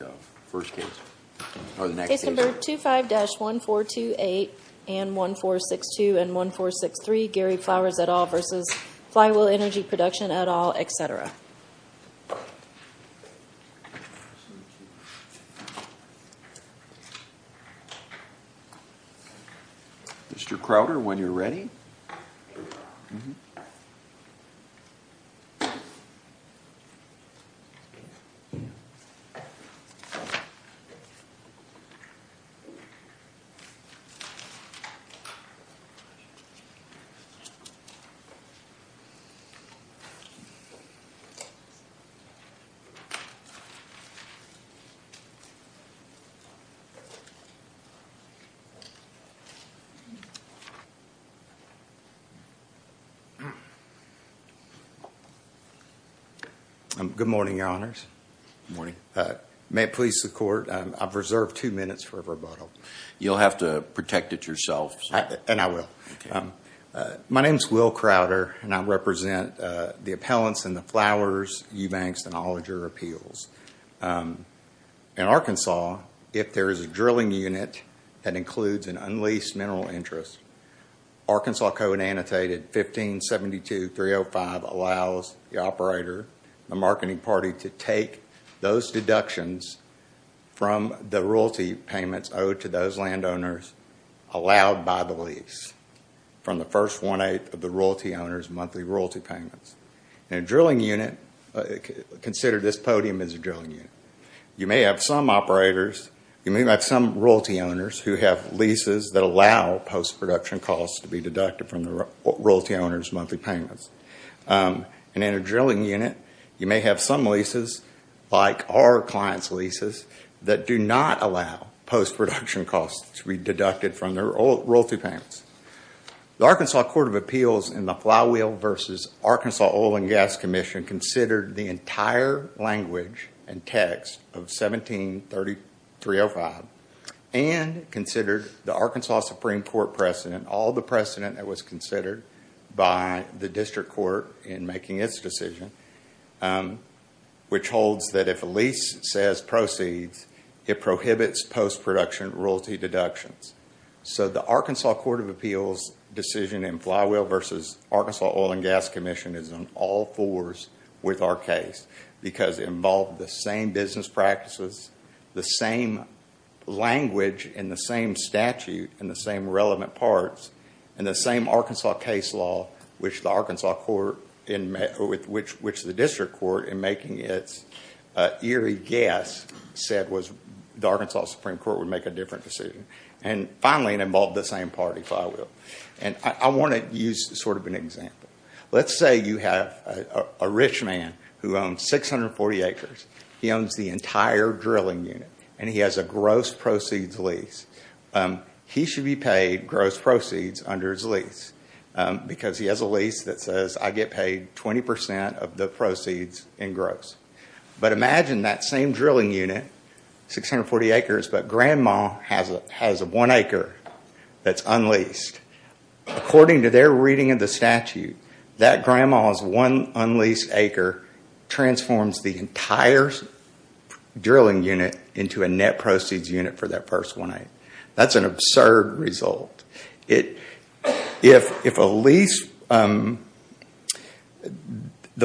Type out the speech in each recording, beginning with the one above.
Number 25-1428 and 1462 and 1463, Gary Flowers et al. v. Flywheel Energy Production et al., etc. Mr. Crowder, when you're ready. Good morning, your honors. Good morning. May it please the court, I've reserved two minutes for a rebuttal. You'll have to protect it yourself. And I will. My name is Will Crowder and I represent the appellants in the Flowers, Eubanks, and Olinger appeals. In Arkansas, if there is a drilling unit that includes an unleased mineral interest, Arkansas Code Annotated 1572-305 allows the operator, the marketing party, to take those deductions from the royalty payments owed to those landowners allowed by the lease from the first one-eighth of the royalty owner's monthly royalty payments. In a drilling unit, consider this podium as a drilling unit. You may have some operators, you may have some royalty owners who have leases that allow post-production costs to be deducted from the royalty owner's monthly payments. And in a drilling unit, you may have some leases, like our client's leases, that do not allow post-production costs to be deducted from their royalty payments. The Arkansas Court of Appeals in the Flywheel v. Arkansas Oil and Gas Commission considered the entire language and text of 17-3305 and considered the Arkansas Supreme Court precedent, all the precedent that was considered by the district court in making its decision, which holds that if a lease says proceeds, it prohibits post-production royalty deductions. So the Arkansas Court of Appeals decision in Flywheel v. Arkansas Oil and Gas Commission is on all fours with our case because it involved the same business practices, the same language, and the same statute, and the same relevant parts, and the same Arkansas case law which the district court, in making its eerie guess, said the Arkansas Supreme Court would make a different decision. And finally, it involved the same party, Flywheel. And I want to use sort of an example. Let's say you have a rich man who owns 640 acres. He owns the entire drilling unit, and he has a gross proceeds lease. He should be paid gross proceeds under his lease because he has a lease that says, I get paid 20% of the proceeds in gross. But imagine that same drilling unit, 640 acres, but grandma has one acre that's unleased. According to their reading of the statute, that grandma's one unleased acre transforms the entire drilling unit into a net proceeds unit for that first one acre. That's an absurd result. If a lease, the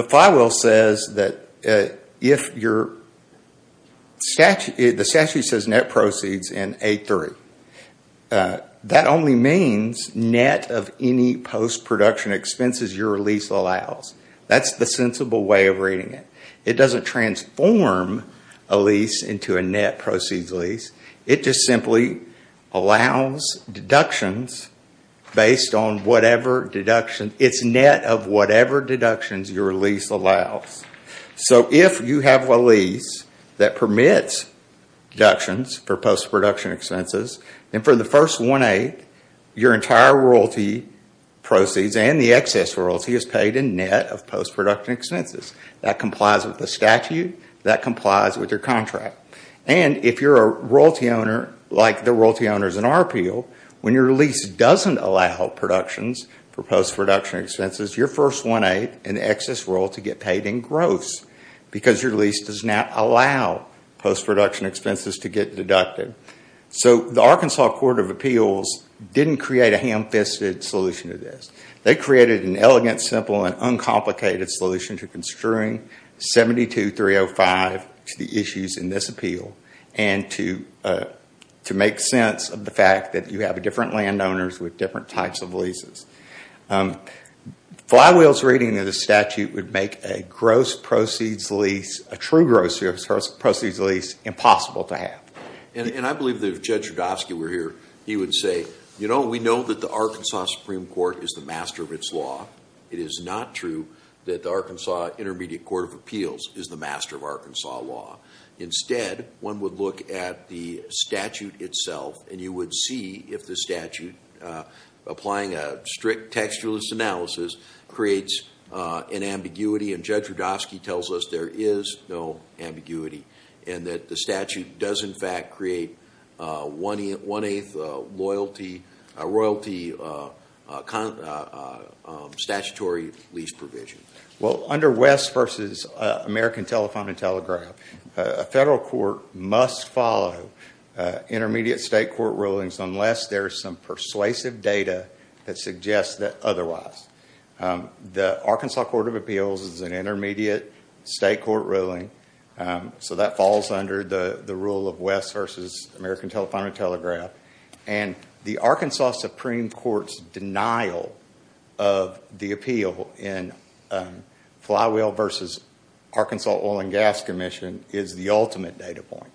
Flywheel says that if your statute, the statute says net proceeds in A3, that only means net of any post-production expenses your lease allows. That's the sensible way of reading it. It doesn't transform a lease into a net proceeds lease. It just simply allows deductions based on whatever deduction. It's net of whatever deductions your lease allows. If you have a lease that permits deductions for post-production expenses, then for the first one acre, your entire royalty proceeds and the excess royalty is paid in net of post-production expenses. That complies with the statute. That complies with your contract. If you're a royalty owner, like the royalty owners in our appeal, when your lease doesn't allow productions for post-production expenses, your first one acre and the excess royalty get paid in gross because your lease does not allow post-production expenses to get deducted. The Arkansas Court of Appeals didn't create a ham-fisted solution to this. They created an elegant, simple, and uncomplicated solution to construing 72-305 to the issues in this appeal and to make sense of the fact that you have different landowners with different types of leases. Flywheel's reading of the statute would make a gross proceeds lease, a true gross proceeds lease, impossible to have. And I believe that if Judge Rudofsky were here, he would say, you know, we know that the Arkansas Supreme Court is the master of its law. It is not true that the Arkansas Intermediate Court of Appeals is the master of Arkansas law. Instead, one would look at the statute itself, and you would see if the statute, applying a strict textualist analysis, creates an ambiguity. And Judge Rudofsky tells us there is no ambiguity and that the statute does in fact create one-eighth royalty statutory lease provision. Well, under West v. American Telephone and Telegraph, a federal court must follow intermediate state court rulings unless there is some persuasive data that suggests that otherwise. The Arkansas Court of Appeals is an intermediate state court ruling, so that falls under the rule of West v. American Telephone and Telegraph. And the Arkansas Supreme Court's denial of the appeal in Flywheel v. Arkansas Oil and Gas Commission is the ultimate data point.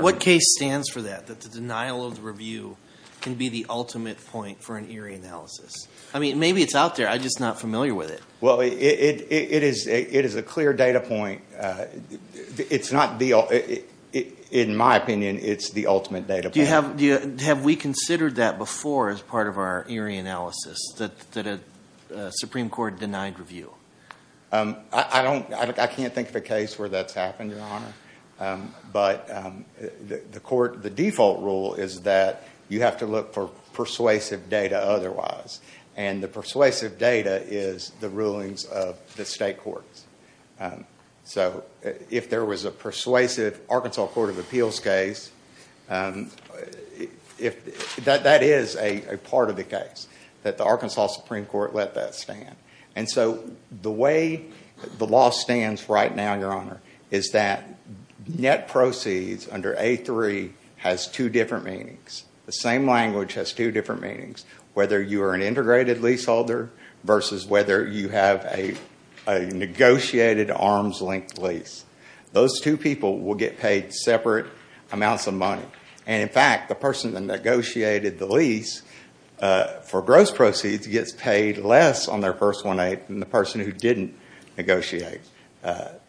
What case stands for that, that the denial of the review can be the ultimate point for an Erie analysis? I mean, maybe it's out there. I'm just not familiar with it. Well, it is a clear data point. It's not the ultimate. In my opinion, it's the ultimate data point. Have we considered that before as part of our Erie analysis, that a Supreme Court denied review? I can't think of a case where that's happened, Your Honor. But the default rule is that you have to look for persuasive data otherwise, and the persuasive data is the rulings of the state courts. So if there was a persuasive Arkansas Court of Appeals case, that is a part of the case, that the Arkansas Supreme Court let that stand. And so the way the law stands right now, Your Honor, is that net proceeds under A3 has two different meanings. The same language has two different meanings, whether you are an integrated leaseholder versus whether you have a negotiated arms-linked lease. Those two people will get paid separate amounts of money. And in fact, the person that negotiated the lease for gross proceeds gets paid less on their first one-eighth than the person who didn't negotiate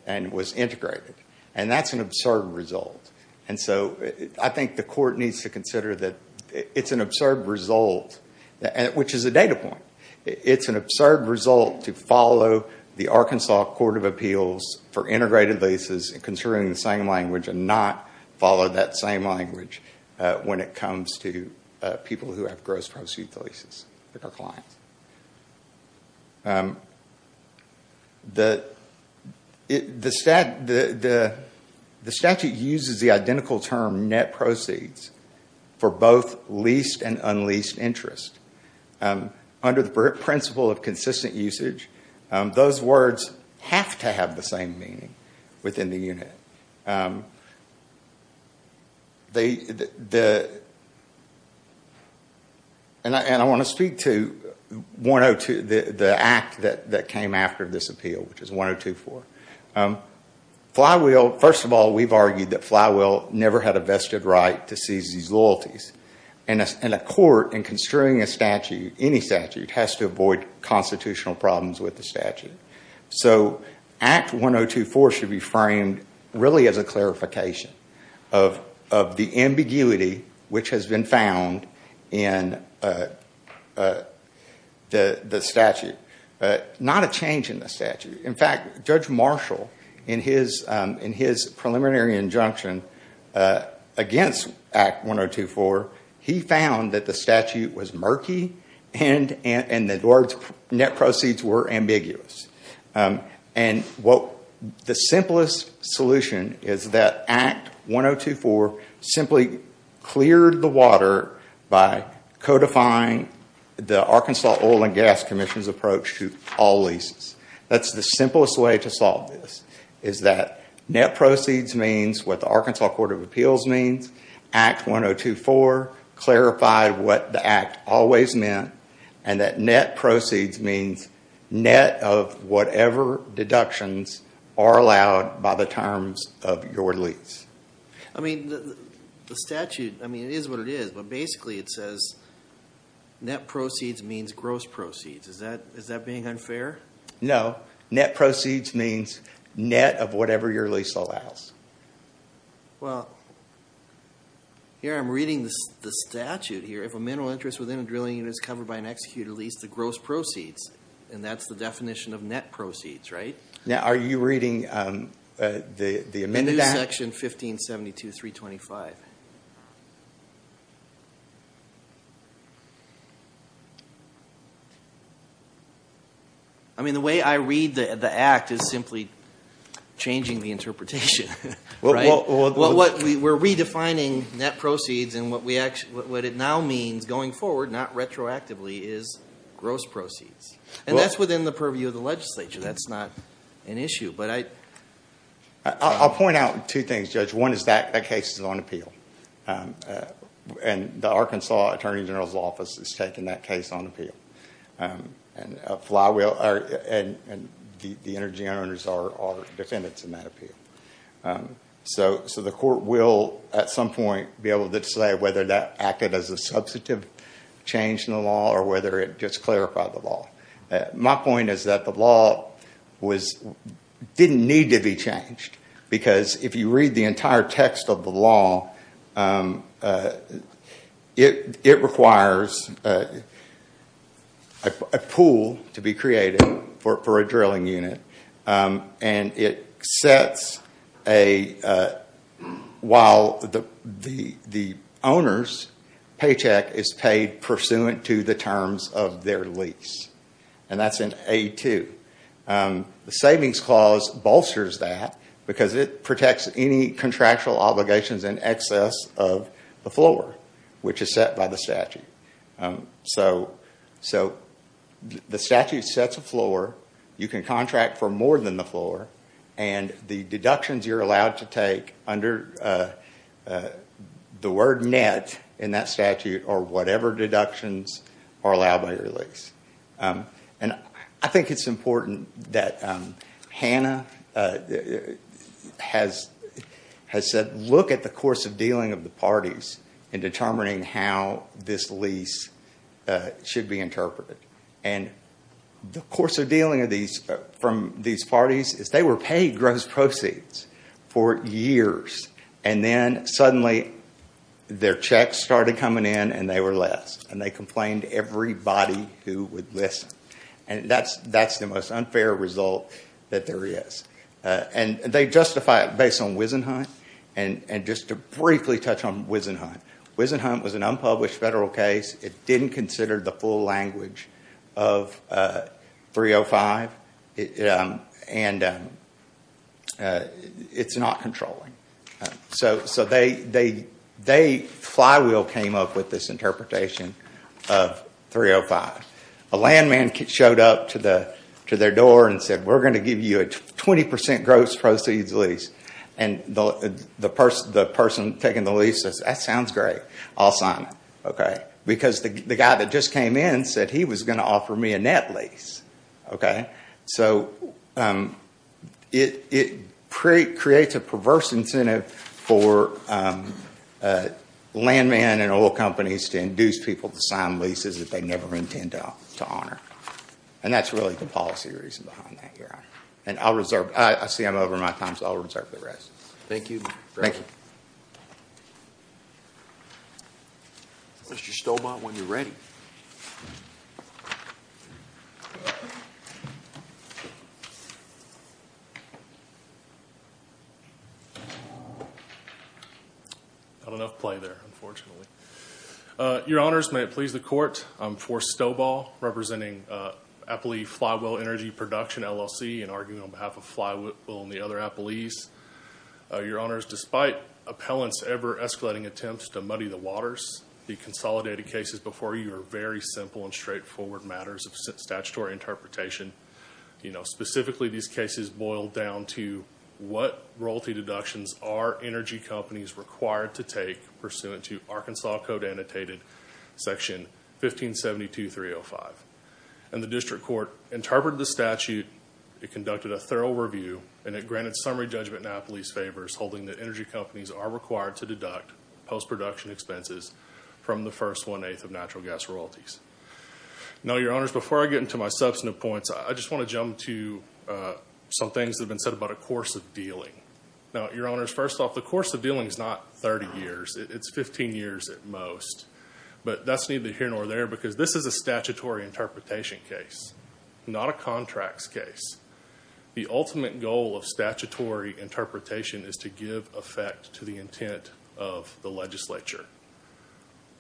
and was integrated. And that's an absurd result. And so I think the court needs to consider that it's an absurd result, which is a data point. It's an absurd result to follow the Arkansas Court of Appeals for integrated leases considering the same language and not follow that same language when it comes to people who have gross proceeds leases with our clients. The statute uses the identical term net proceeds for both leased and unleased interest. Under the principle of consistent usage, those words have to have the same meaning within the unit. And I want to speak to the act that came after this appeal, which is 102-4. First of all, we've argued that Flywheel never had a vested right to seize these loyalties. And a court, in construing a statute, any statute, has to avoid constitutional problems with the statute. So Act 102-4 should be framed really as a clarification of the ambiguity which has been found in the statute. Not a change in the statute. In fact, Judge Marshall, in his preliminary injunction against Act 102-4, he found that the statute was murky and the net proceeds were ambiguous. And the simplest solution is that Act 102-4 simply cleared the water by codifying the Arkansas Oil and Gas Commission's approach to all leases. That's the simplest way to solve this, is that net proceeds means what the Arkansas Court of Appeals means, Act 102-4 clarified what the act always meant, and that net proceeds means net of whatever deductions are allowed by the terms of your lease. I mean, the statute, I mean, it is what it is, but basically it says net proceeds means gross proceeds. Is that being unfair? No. Net proceeds means net of whatever your lease allows. Well, here I'm reading the statute here. If a mineral interest within a drilling unit is covered by an executed lease, the gross proceeds, and that's the definition of net proceeds, right? Now, are you reading the amended Act? In section 1572-325. I mean, the way I read the Act is simply changing the interpretation, right? We're redefining net proceeds, and what it now means going forward, not retroactively, is gross proceeds. And that's within the purview of the legislature. That's not an issue. I'll point out two things, Judge. One is that case is on appeal. And the Arkansas Attorney General's Office has taken that case on appeal. And the energy owners are defendants in that appeal. So the court will, at some point, be able to say whether that acted as a substantive change in the law or whether it just clarified the law. My point is that the law didn't need to be changed because if you read the entire text of the law, it requires a pool to be created for a drilling unit. While the owner's paycheck is paid pursuant to the terms of their lease. And that's in A2. The Savings Clause bolsters that because it protects any contractual obligations in excess of the floor, which is set by the statute. So the statute sets a floor. You can contract for more than the floor. And the deductions you're allowed to take under the word net in that statute are whatever deductions are allowed by your lease. And I think it's important that Hannah has said, look at the course of dealing of the parties in determining how this lease should be interpreted. And the course of dealing from these parties is they were paid gross proceeds for years. And then suddenly their checks started coming in and they were less. And they complained to everybody who would listen. And that's the most unfair result that there is. And they justify it based on Wisenhunt. And just to briefly touch on Wisenhunt. Wisenhunt was an unpublished federal case. It didn't consider the full language of 305. And it's not controlling. So Flywheel came up with this interpretation of 305. A land man showed up to their door and said, we're going to give you a 20% gross proceeds lease. And the person taking the lease says, that sounds great. I'll sign it. Because the guy that just came in said he was going to offer me a net lease. So it creates a perverse incentive for land man and oil companies to induce people to sign leases that they never intend to honor. And that's really the policy reason behind that. I see I'm over my time, so I'll reserve the rest. Thank you. Thank you. Mr. Stoball, when you're ready. Not enough play there, unfortunately. Your Honors, may it please the Court, I'm Forrest Stoball, representing Appley Flywheel Energy Production, LLC, and arguing on behalf of Flywheel and the other Appleys. Your Honors, despite appellants' ever-escalating attempts to muddy the waters, the consolidated cases before you are very simple and straightforward matters of statutory interpretation. Specifically, these cases boil down to, what royalty deductions are energy companies required to take, pursuant to Arkansas Code Annotated Section 1572.305? And the District Court interpreted the statute, it conducted a thorough review, and it granted summary judgment in Appley's favors, holding that energy companies are required to deduct post-production expenses from the first one-eighth of natural gas royalties. Now, Your Honors, before I get into my substantive points, I just want to jump to some things that have been said about a course of dealing. Now, Your Honors, first off, the course of dealing is not 30 years. It's 15 years at most. But that's neither here nor there because this is a statutory interpretation case, not a contracts case. The ultimate goal of statutory interpretation is to give effect to the intent of the legislature.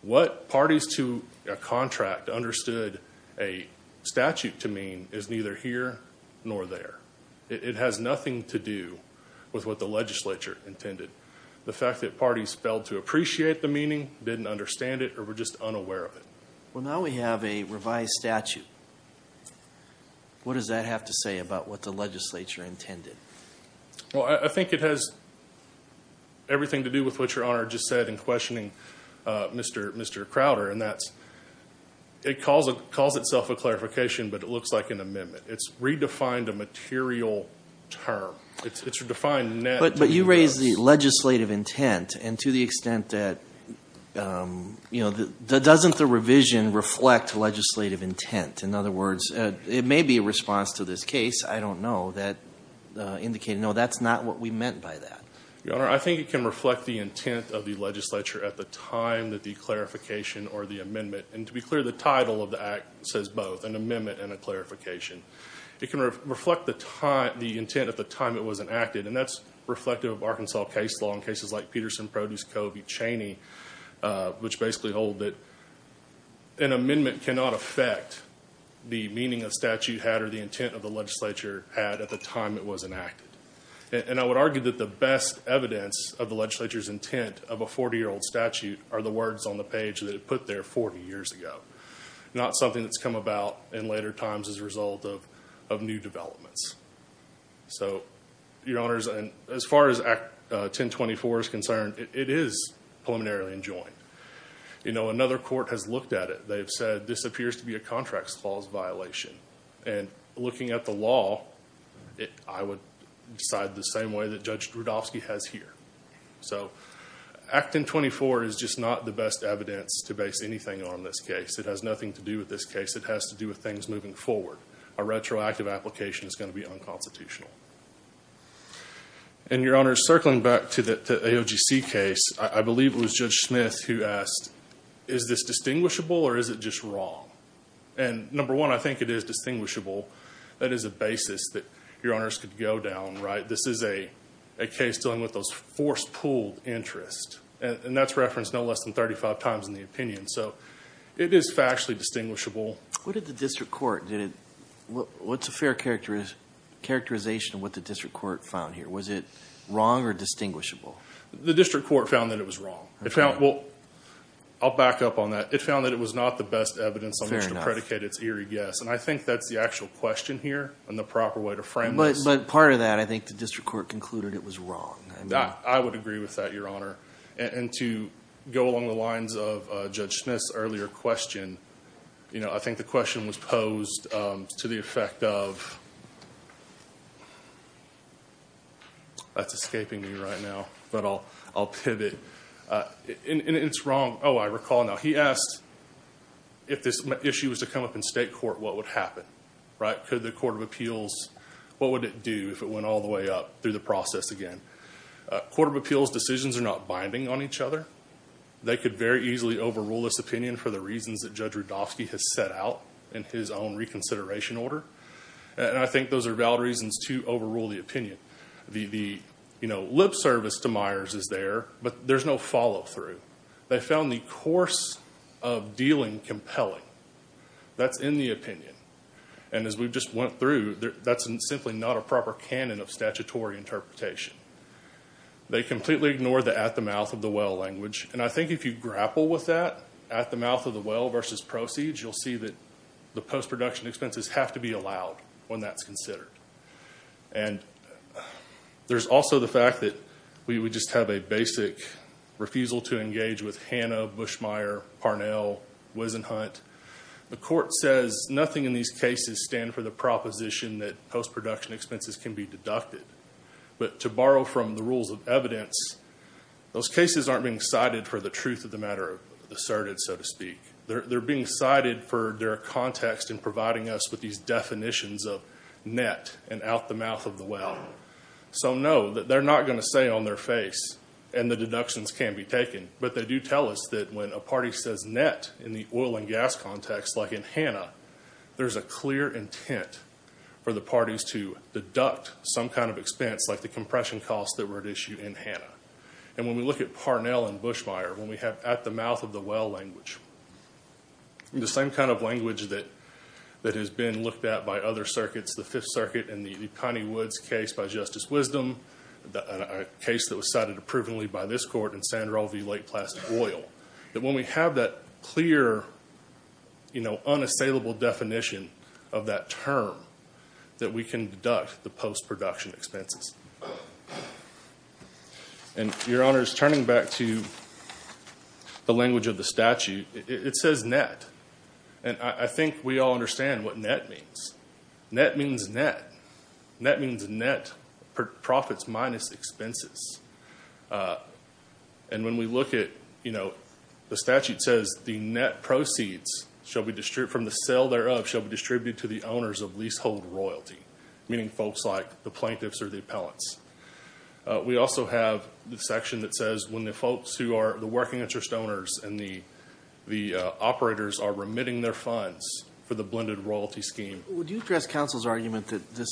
What parties to a contract understood a statute to mean is neither here nor there. It has nothing to do with what the legislature intended. The fact that parties failed to appreciate the meaning, didn't understand it, or were just unaware of it. Well, now we have a revised statute. What does that have to say about what the legislature intended? Well, I think it has everything to do with what Your Honor just said in questioning Mr. Crowder, and that's it calls itself a clarification, but it looks like an amendment. It's redefined a material term. But you raised the legislative intent, and to the extent that, you know, doesn't the revision reflect legislative intent? In other words, it may be a response to this case. I don't know. No, that's not what we meant by that. Your Honor, I think it can reflect the intent of the legislature at the time of the clarification or the amendment. And to be clear, the title of the act says both, an amendment and a clarification. It can reflect the intent at the time it was enacted, and that's reflective of Arkansas case law in cases like Peterson, Produce, Covey, Cheney, which basically hold that an amendment cannot affect the meaning a statute had or the intent of the legislature had at the time it was enacted. And I would argue that the best evidence of the legislature's intent of a 40-year-old statute are the words on the page that it put there 40 years ago, not something that's come about in later times as a result of new developments. So, Your Honors, as far as Act 1024 is concerned, it is preliminarily enjoined. You know, another court has looked at it. They've said this appears to be a contract clause violation. And looking at the law, I would decide the same way that Judge Rudofsky has here. So, Act 1024 is just not the best evidence to base anything on this case. It has nothing to do with this case. It has to do with things moving forward. A retroactive application is going to be unconstitutional. And, Your Honors, circling back to the AOGC case, I believe it was Judge Smith who asked, is this distinguishable or is it just wrong? And number one, I think it is distinguishable. That is a basis that Your Honors could go down, right? This is a case dealing with those force-pulled interests. And that's referenced no less than 35 times in the opinion. So, it is factually distinguishable. What did the district court, did it, what's a fair characterization of what the district court found here? Was it wrong or distinguishable? The district court found that it was wrong. Well, I'll back up on that. It found that it was not the best evidence on which to predicate its eerie guess. And I think that's the actual question here and the proper way to frame this. But part of that, I think the district court concluded it was wrong. I would agree with that, Your Honor. And to go along the lines of Judge Smith's earlier question, you know, I think the question was posed to the effect of, that's escaping me right now, but I'll pivot. And it's wrong, oh, I recall now. He asked if this issue was to come up in state court, what would happen, right? Could the Court of Appeals, what would it do if it went all the way up through the process again? Court of Appeals decisions are not binding on each other. They could very easily overrule this opinion for the reasons that Judge Rudofsky has set out in his own reconsideration order. And I think those are valid reasons to overrule the opinion. The, you know, lip service to Myers is there, but there's no follow through. They found the course of dealing compelling. That's in the opinion. And as we've just went through, that's simply not a proper canon of statutory interpretation. They completely ignored the at the mouth of the well language. And I think if you grapple with that, at the mouth of the well versus proceeds, you'll see that the post-production expenses have to be allowed when that's considered. And there's also the fact that we would just have a basic refusal to engage with Hanna, Bushmeyer, Parnell, Wisenhunt. The court says nothing in these cases stand for the proposition that post-production expenses can be deducted. But to borrow from the rules of evidence, those cases aren't being cited for the truth of the matter asserted, so to speak. They're being cited for their context in providing us with these definitions of net and out the mouth of the well. So, no, they're not going to say on their face, and the deductions can be taken. But they do tell us that when a party says net in the oil and gas context, like in Hanna, there's a clear intent for the parties to deduct some kind of expense, like the compression costs that were at issue in Hanna. And when we look at Parnell and Bushmeyer, when we have at the mouth of the well language, the same kind of language that has been looked at by other circuits, the Fifth Circuit and the Connie Woods case by Justice Wisdom, a case that was cited approvingly by this court in Sandral v. Lake Plastic Oil, that when we have that clear unassailable definition of that term, that we can deduct the post-production expenses. And, Your Honors, turning back to the language of the statute, it says net. And I think we all understand what net means. Net means net. Net means net profits minus expenses. And when we look at, you know, the statute says, the net proceeds from the sale thereof shall be distributed to the owners of leasehold royalty, meaning folks like the plaintiffs or the appellants. We also have the section that says when the folks who are the working interest owners and the operators are remitting their funds for the blended royalty scheme. Would you address counsel's argument that this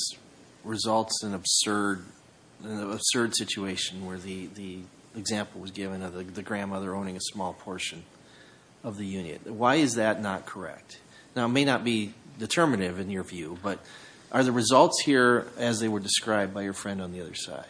results in an absurd situation where the example was given of the grandmother owning a small portion of the unit? Why is that not correct? Now, it may not be determinative in your view, but are the results here as they were described by your friend on the other side?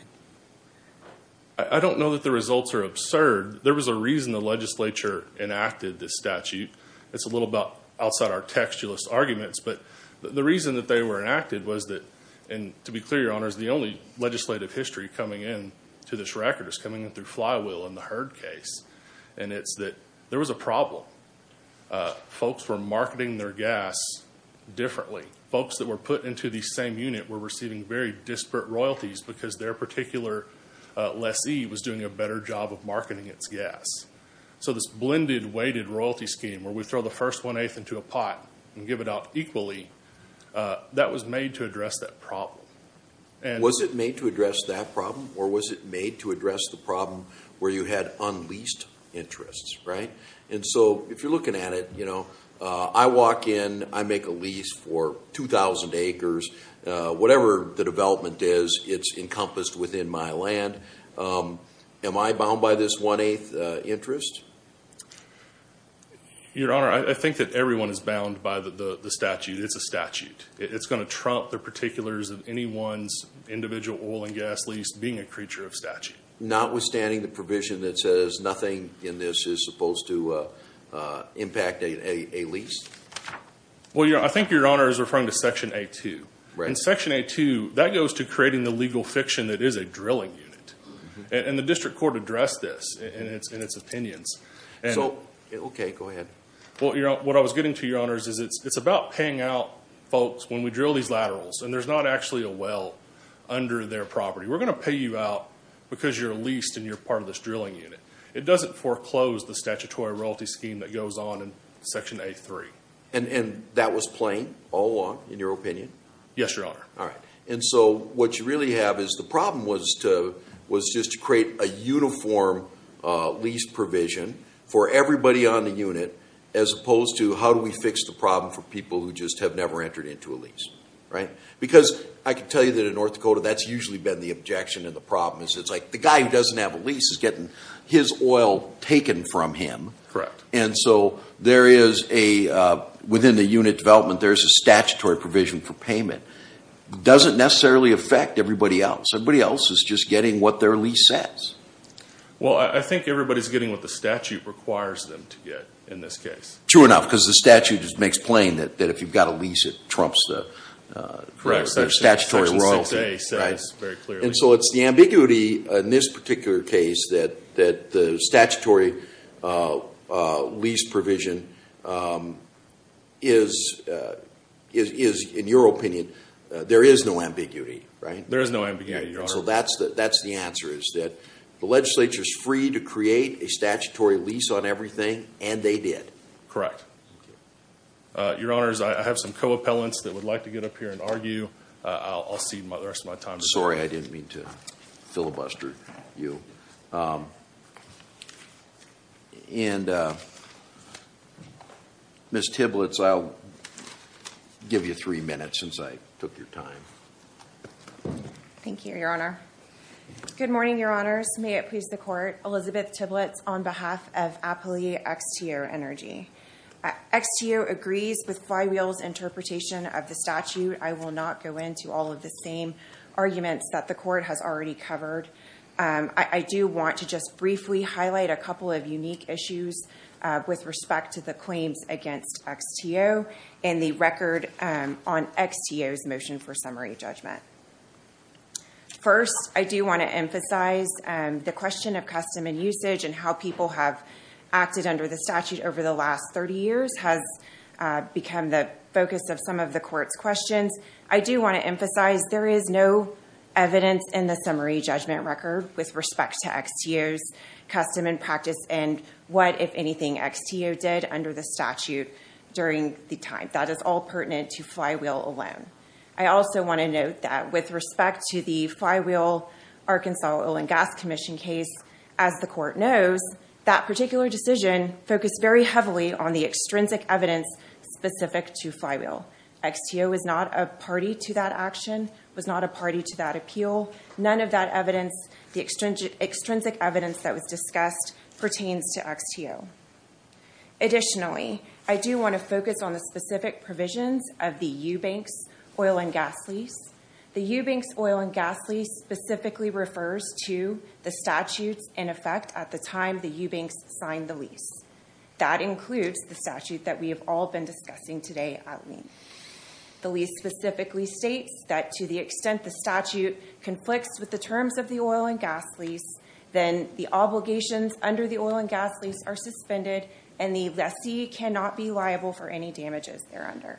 I don't know that the results are absurd. There was a reason the legislature enacted this statute. It's a little outside our textualist arguments, but the reason that they were enacted was that, and to be clear, Your Honors, the only legislative history coming in to this record is coming in through Flywheel in the Heard case. And it's that there was a problem. Folks were marketing their gas differently. Folks that were put into the same unit were receiving very disparate royalties because their particular lessee was doing a better job of marketing its gas. So this blended weighted royalty scheme where we throw the first one-eighth into a pot and give it out equally, that was made to address that problem. Was it made to address that problem, or was it made to address the problem where you had unleased interests, right? And so if you're looking at it, you know, I walk in, I make a lease for 2,000 acres. Whatever the development is, it's encompassed within my land. Am I bound by this one-eighth interest? Your Honor, I think that everyone is bound by the statute. It's a statute. It's going to trump the particulars of anyone's individual oil and gas lease being a creature of statute. Notwithstanding the provision that says nothing in this is supposed to impact a lease? Well, Your Honor, I think Your Honor is referring to Section A-2. In Section A-2, that goes to creating the legal fiction that is a drilling unit, and the district court addressed this in its opinions. Okay, go ahead. What I was getting to, Your Honor, is it's about paying out folks when we drill these laterals, and there's not actually a well under their property. We're going to pay you out because you're leased and you're part of this drilling unit. It doesn't foreclose the statutory royalty scheme that goes on in Section A-3. And that was plain all along, in your opinion? Yes, Your Honor. All right. And so what you really have is the problem was just to create a uniform lease provision for everybody on the unit as opposed to how do we fix the problem for people who just have never entered into a lease, right? Because I can tell you that in North Dakota, that's usually been the objection and the problem. It's like the guy who doesn't have a lease is getting his oil taken from him. Correct. And so there is a, within the unit development, there's a statutory provision for payment. It doesn't necessarily affect everybody else. Everybody else is just getting what their lease says. Well, I think everybody's getting what the statute requires them to get in this case. True enough, because the statute just makes plain that if you've got a lease, it trumps the statutory royalty. Section 6A says very clearly. And so it's the ambiguity in this particular case that the statutory lease provision is, in your opinion, there is no ambiguity, right? There is no ambiguity, Your Honor. So that's the answer is that the legislature is free to create a statutory lease on everything, and they did. Correct. Thank you. Your Honors, I have some co-appellants that would like to get up here and argue. I'll cede the rest of my time to them. I'm sorry. I didn't mean to filibuster you. And Ms. Tiblitz, I'll give you three minutes since I took your time. Thank you, Your Honor. Good morning, Your Honors. May it please the Court. Elizabeth Tiblitz on behalf of Appelier XTO Energy. XTO agrees with Flywheel's interpretation of the statute. I will not go into all of the same arguments that the Court has already covered. I do want to just briefly highlight a couple of unique issues with respect to the claims against XTO in the record on XTO's motion for summary judgment. First, I do want to emphasize the question of custom and usage and how people have acted under the statute over the last 30 years has become the focus of some of the Court's questions. I do want to emphasize there is no evidence in the summary judgment record with respect to XTO's custom and practice and what, if anything, XTO did under the statute during the time. That is all pertinent to Flywheel alone. I also want to note that with respect to the Flywheel-Arkansas Oil and Gas Commission case, as the Court knows, that particular decision focused very heavily on the extrinsic evidence specific to Flywheel. XTO was not a party to that action, was not a party to that appeal. None of that evidence, the extrinsic evidence that was discussed, pertains to XTO. Additionally, I do want to focus on the specific provisions of the Eubanks Oil and Gas Lease. The Eubanks Oil and Gas Lease specifically refers to the statutes in effect at the time the Eubanks signed the lease. That includes the statute that we have all been discussing today at length. The lease specifically states that to the extent the statute conflicts with the terms of the oil and gas lease, then the obligations under the oil and gas lease are suspended and the lessee cannot be liable for any damages there under.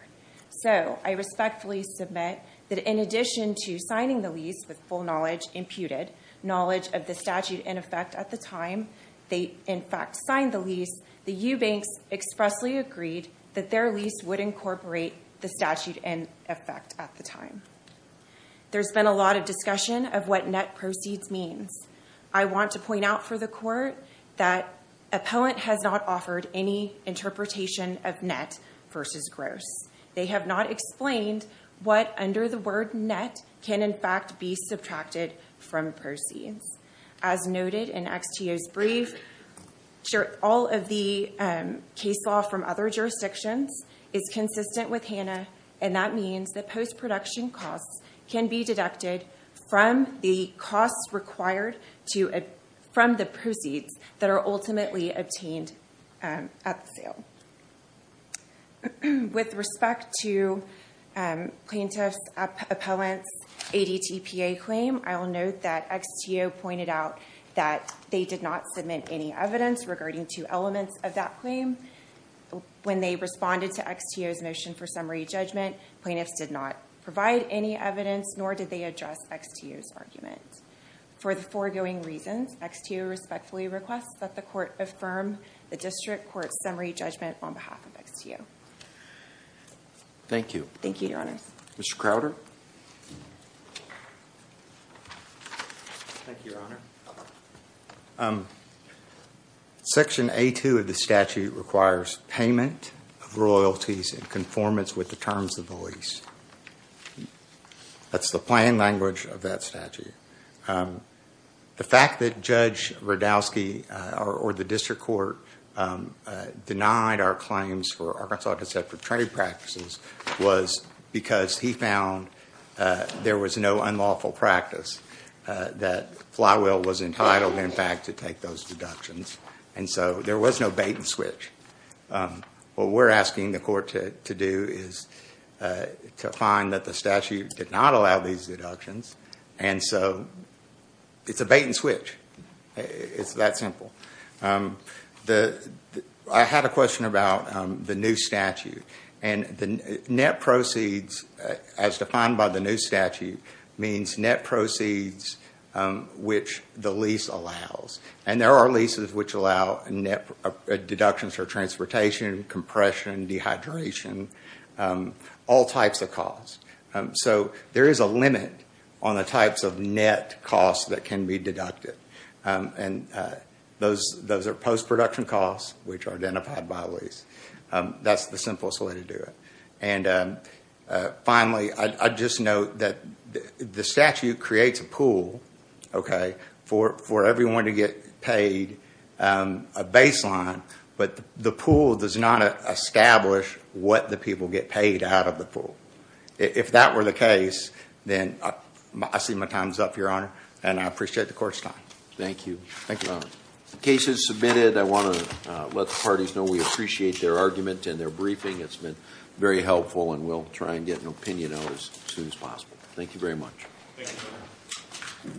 So, I respectfully submit that in addition to signing the lease with full knowledge imputed, knowledge of the statute in effect at the time they, in fact, signed the lease, the Eubanks expressly agreed that their lease would incorporate the statute in effect at the time. There's been a lot of discussion of what net proceeds means. I want to point out for the Court that Appellant has not offered any interpretation of net versus gross. They have not explained what under the word net can, in fact, be subtracted from proceeds. As noted in XTO's brief, all of the case law from other jurisdictions is consistent with HANA, and that means that post-production costs can be deducted from the costs required from the proceeds that are ultimately obtained at the sale. With respect to Plaintiff's Appellant's ADTPA claim, I will note that XTO pointed out that they did not submit any evidence regarding two elements of that claim. When they responded to XTO's motion for summary judgment, plaintiffs did not provide any evidence, nor did they address XTO's argument. For the foregoing reasons, XTO respectfully requests that the Court affirm the District Court's summary judgment on behalf of XTO. Thank you. Thank you, Your Honors. Mr. Crowder? Thank you, Your Honor. Section A-2 of the statute requires payment of royalties in conformance with the terms of the lease. That's the plain language of that statute. The fact that Judge Rudowsky or the District Court denied our claims for Arkansas Conceptual Trade Practices was because he found there was no unlawful practice, that Flywheel was entitled, in fact, to take those deductions, and so there was no bait and switch. What we're asking the Court to do is to find that the statute did not allow these deductions, and so it's a bait and switch. It's that simple. I had a question about the new statute. And the net proceeds, as defined by the new statute, means net proceeds which the lease allows. And there are leases which allow net deductions for transportation, compression, dehydration, all types of costs. So there is a limit on the types of net costs that can be deducted. And those are post-production costs which are identified by a lease. That's the simplest way to do it. And finally, I'd just note that the statute creates a pool, okay, for everyone to get paid a baseline, but the pool does not establish what the people get paid out of the pool. If that were the case, then I see my time is up, Your Honor, and I appreciate the Court's time. Thank you. Thank you, Your Honor. The case is submitted. I want to let the parties know we appreciate their argument and their briefing. It's been very helpful, and we'll try and get an opinion out as soon as possible. Thank you very much. Thank you, Your Honor.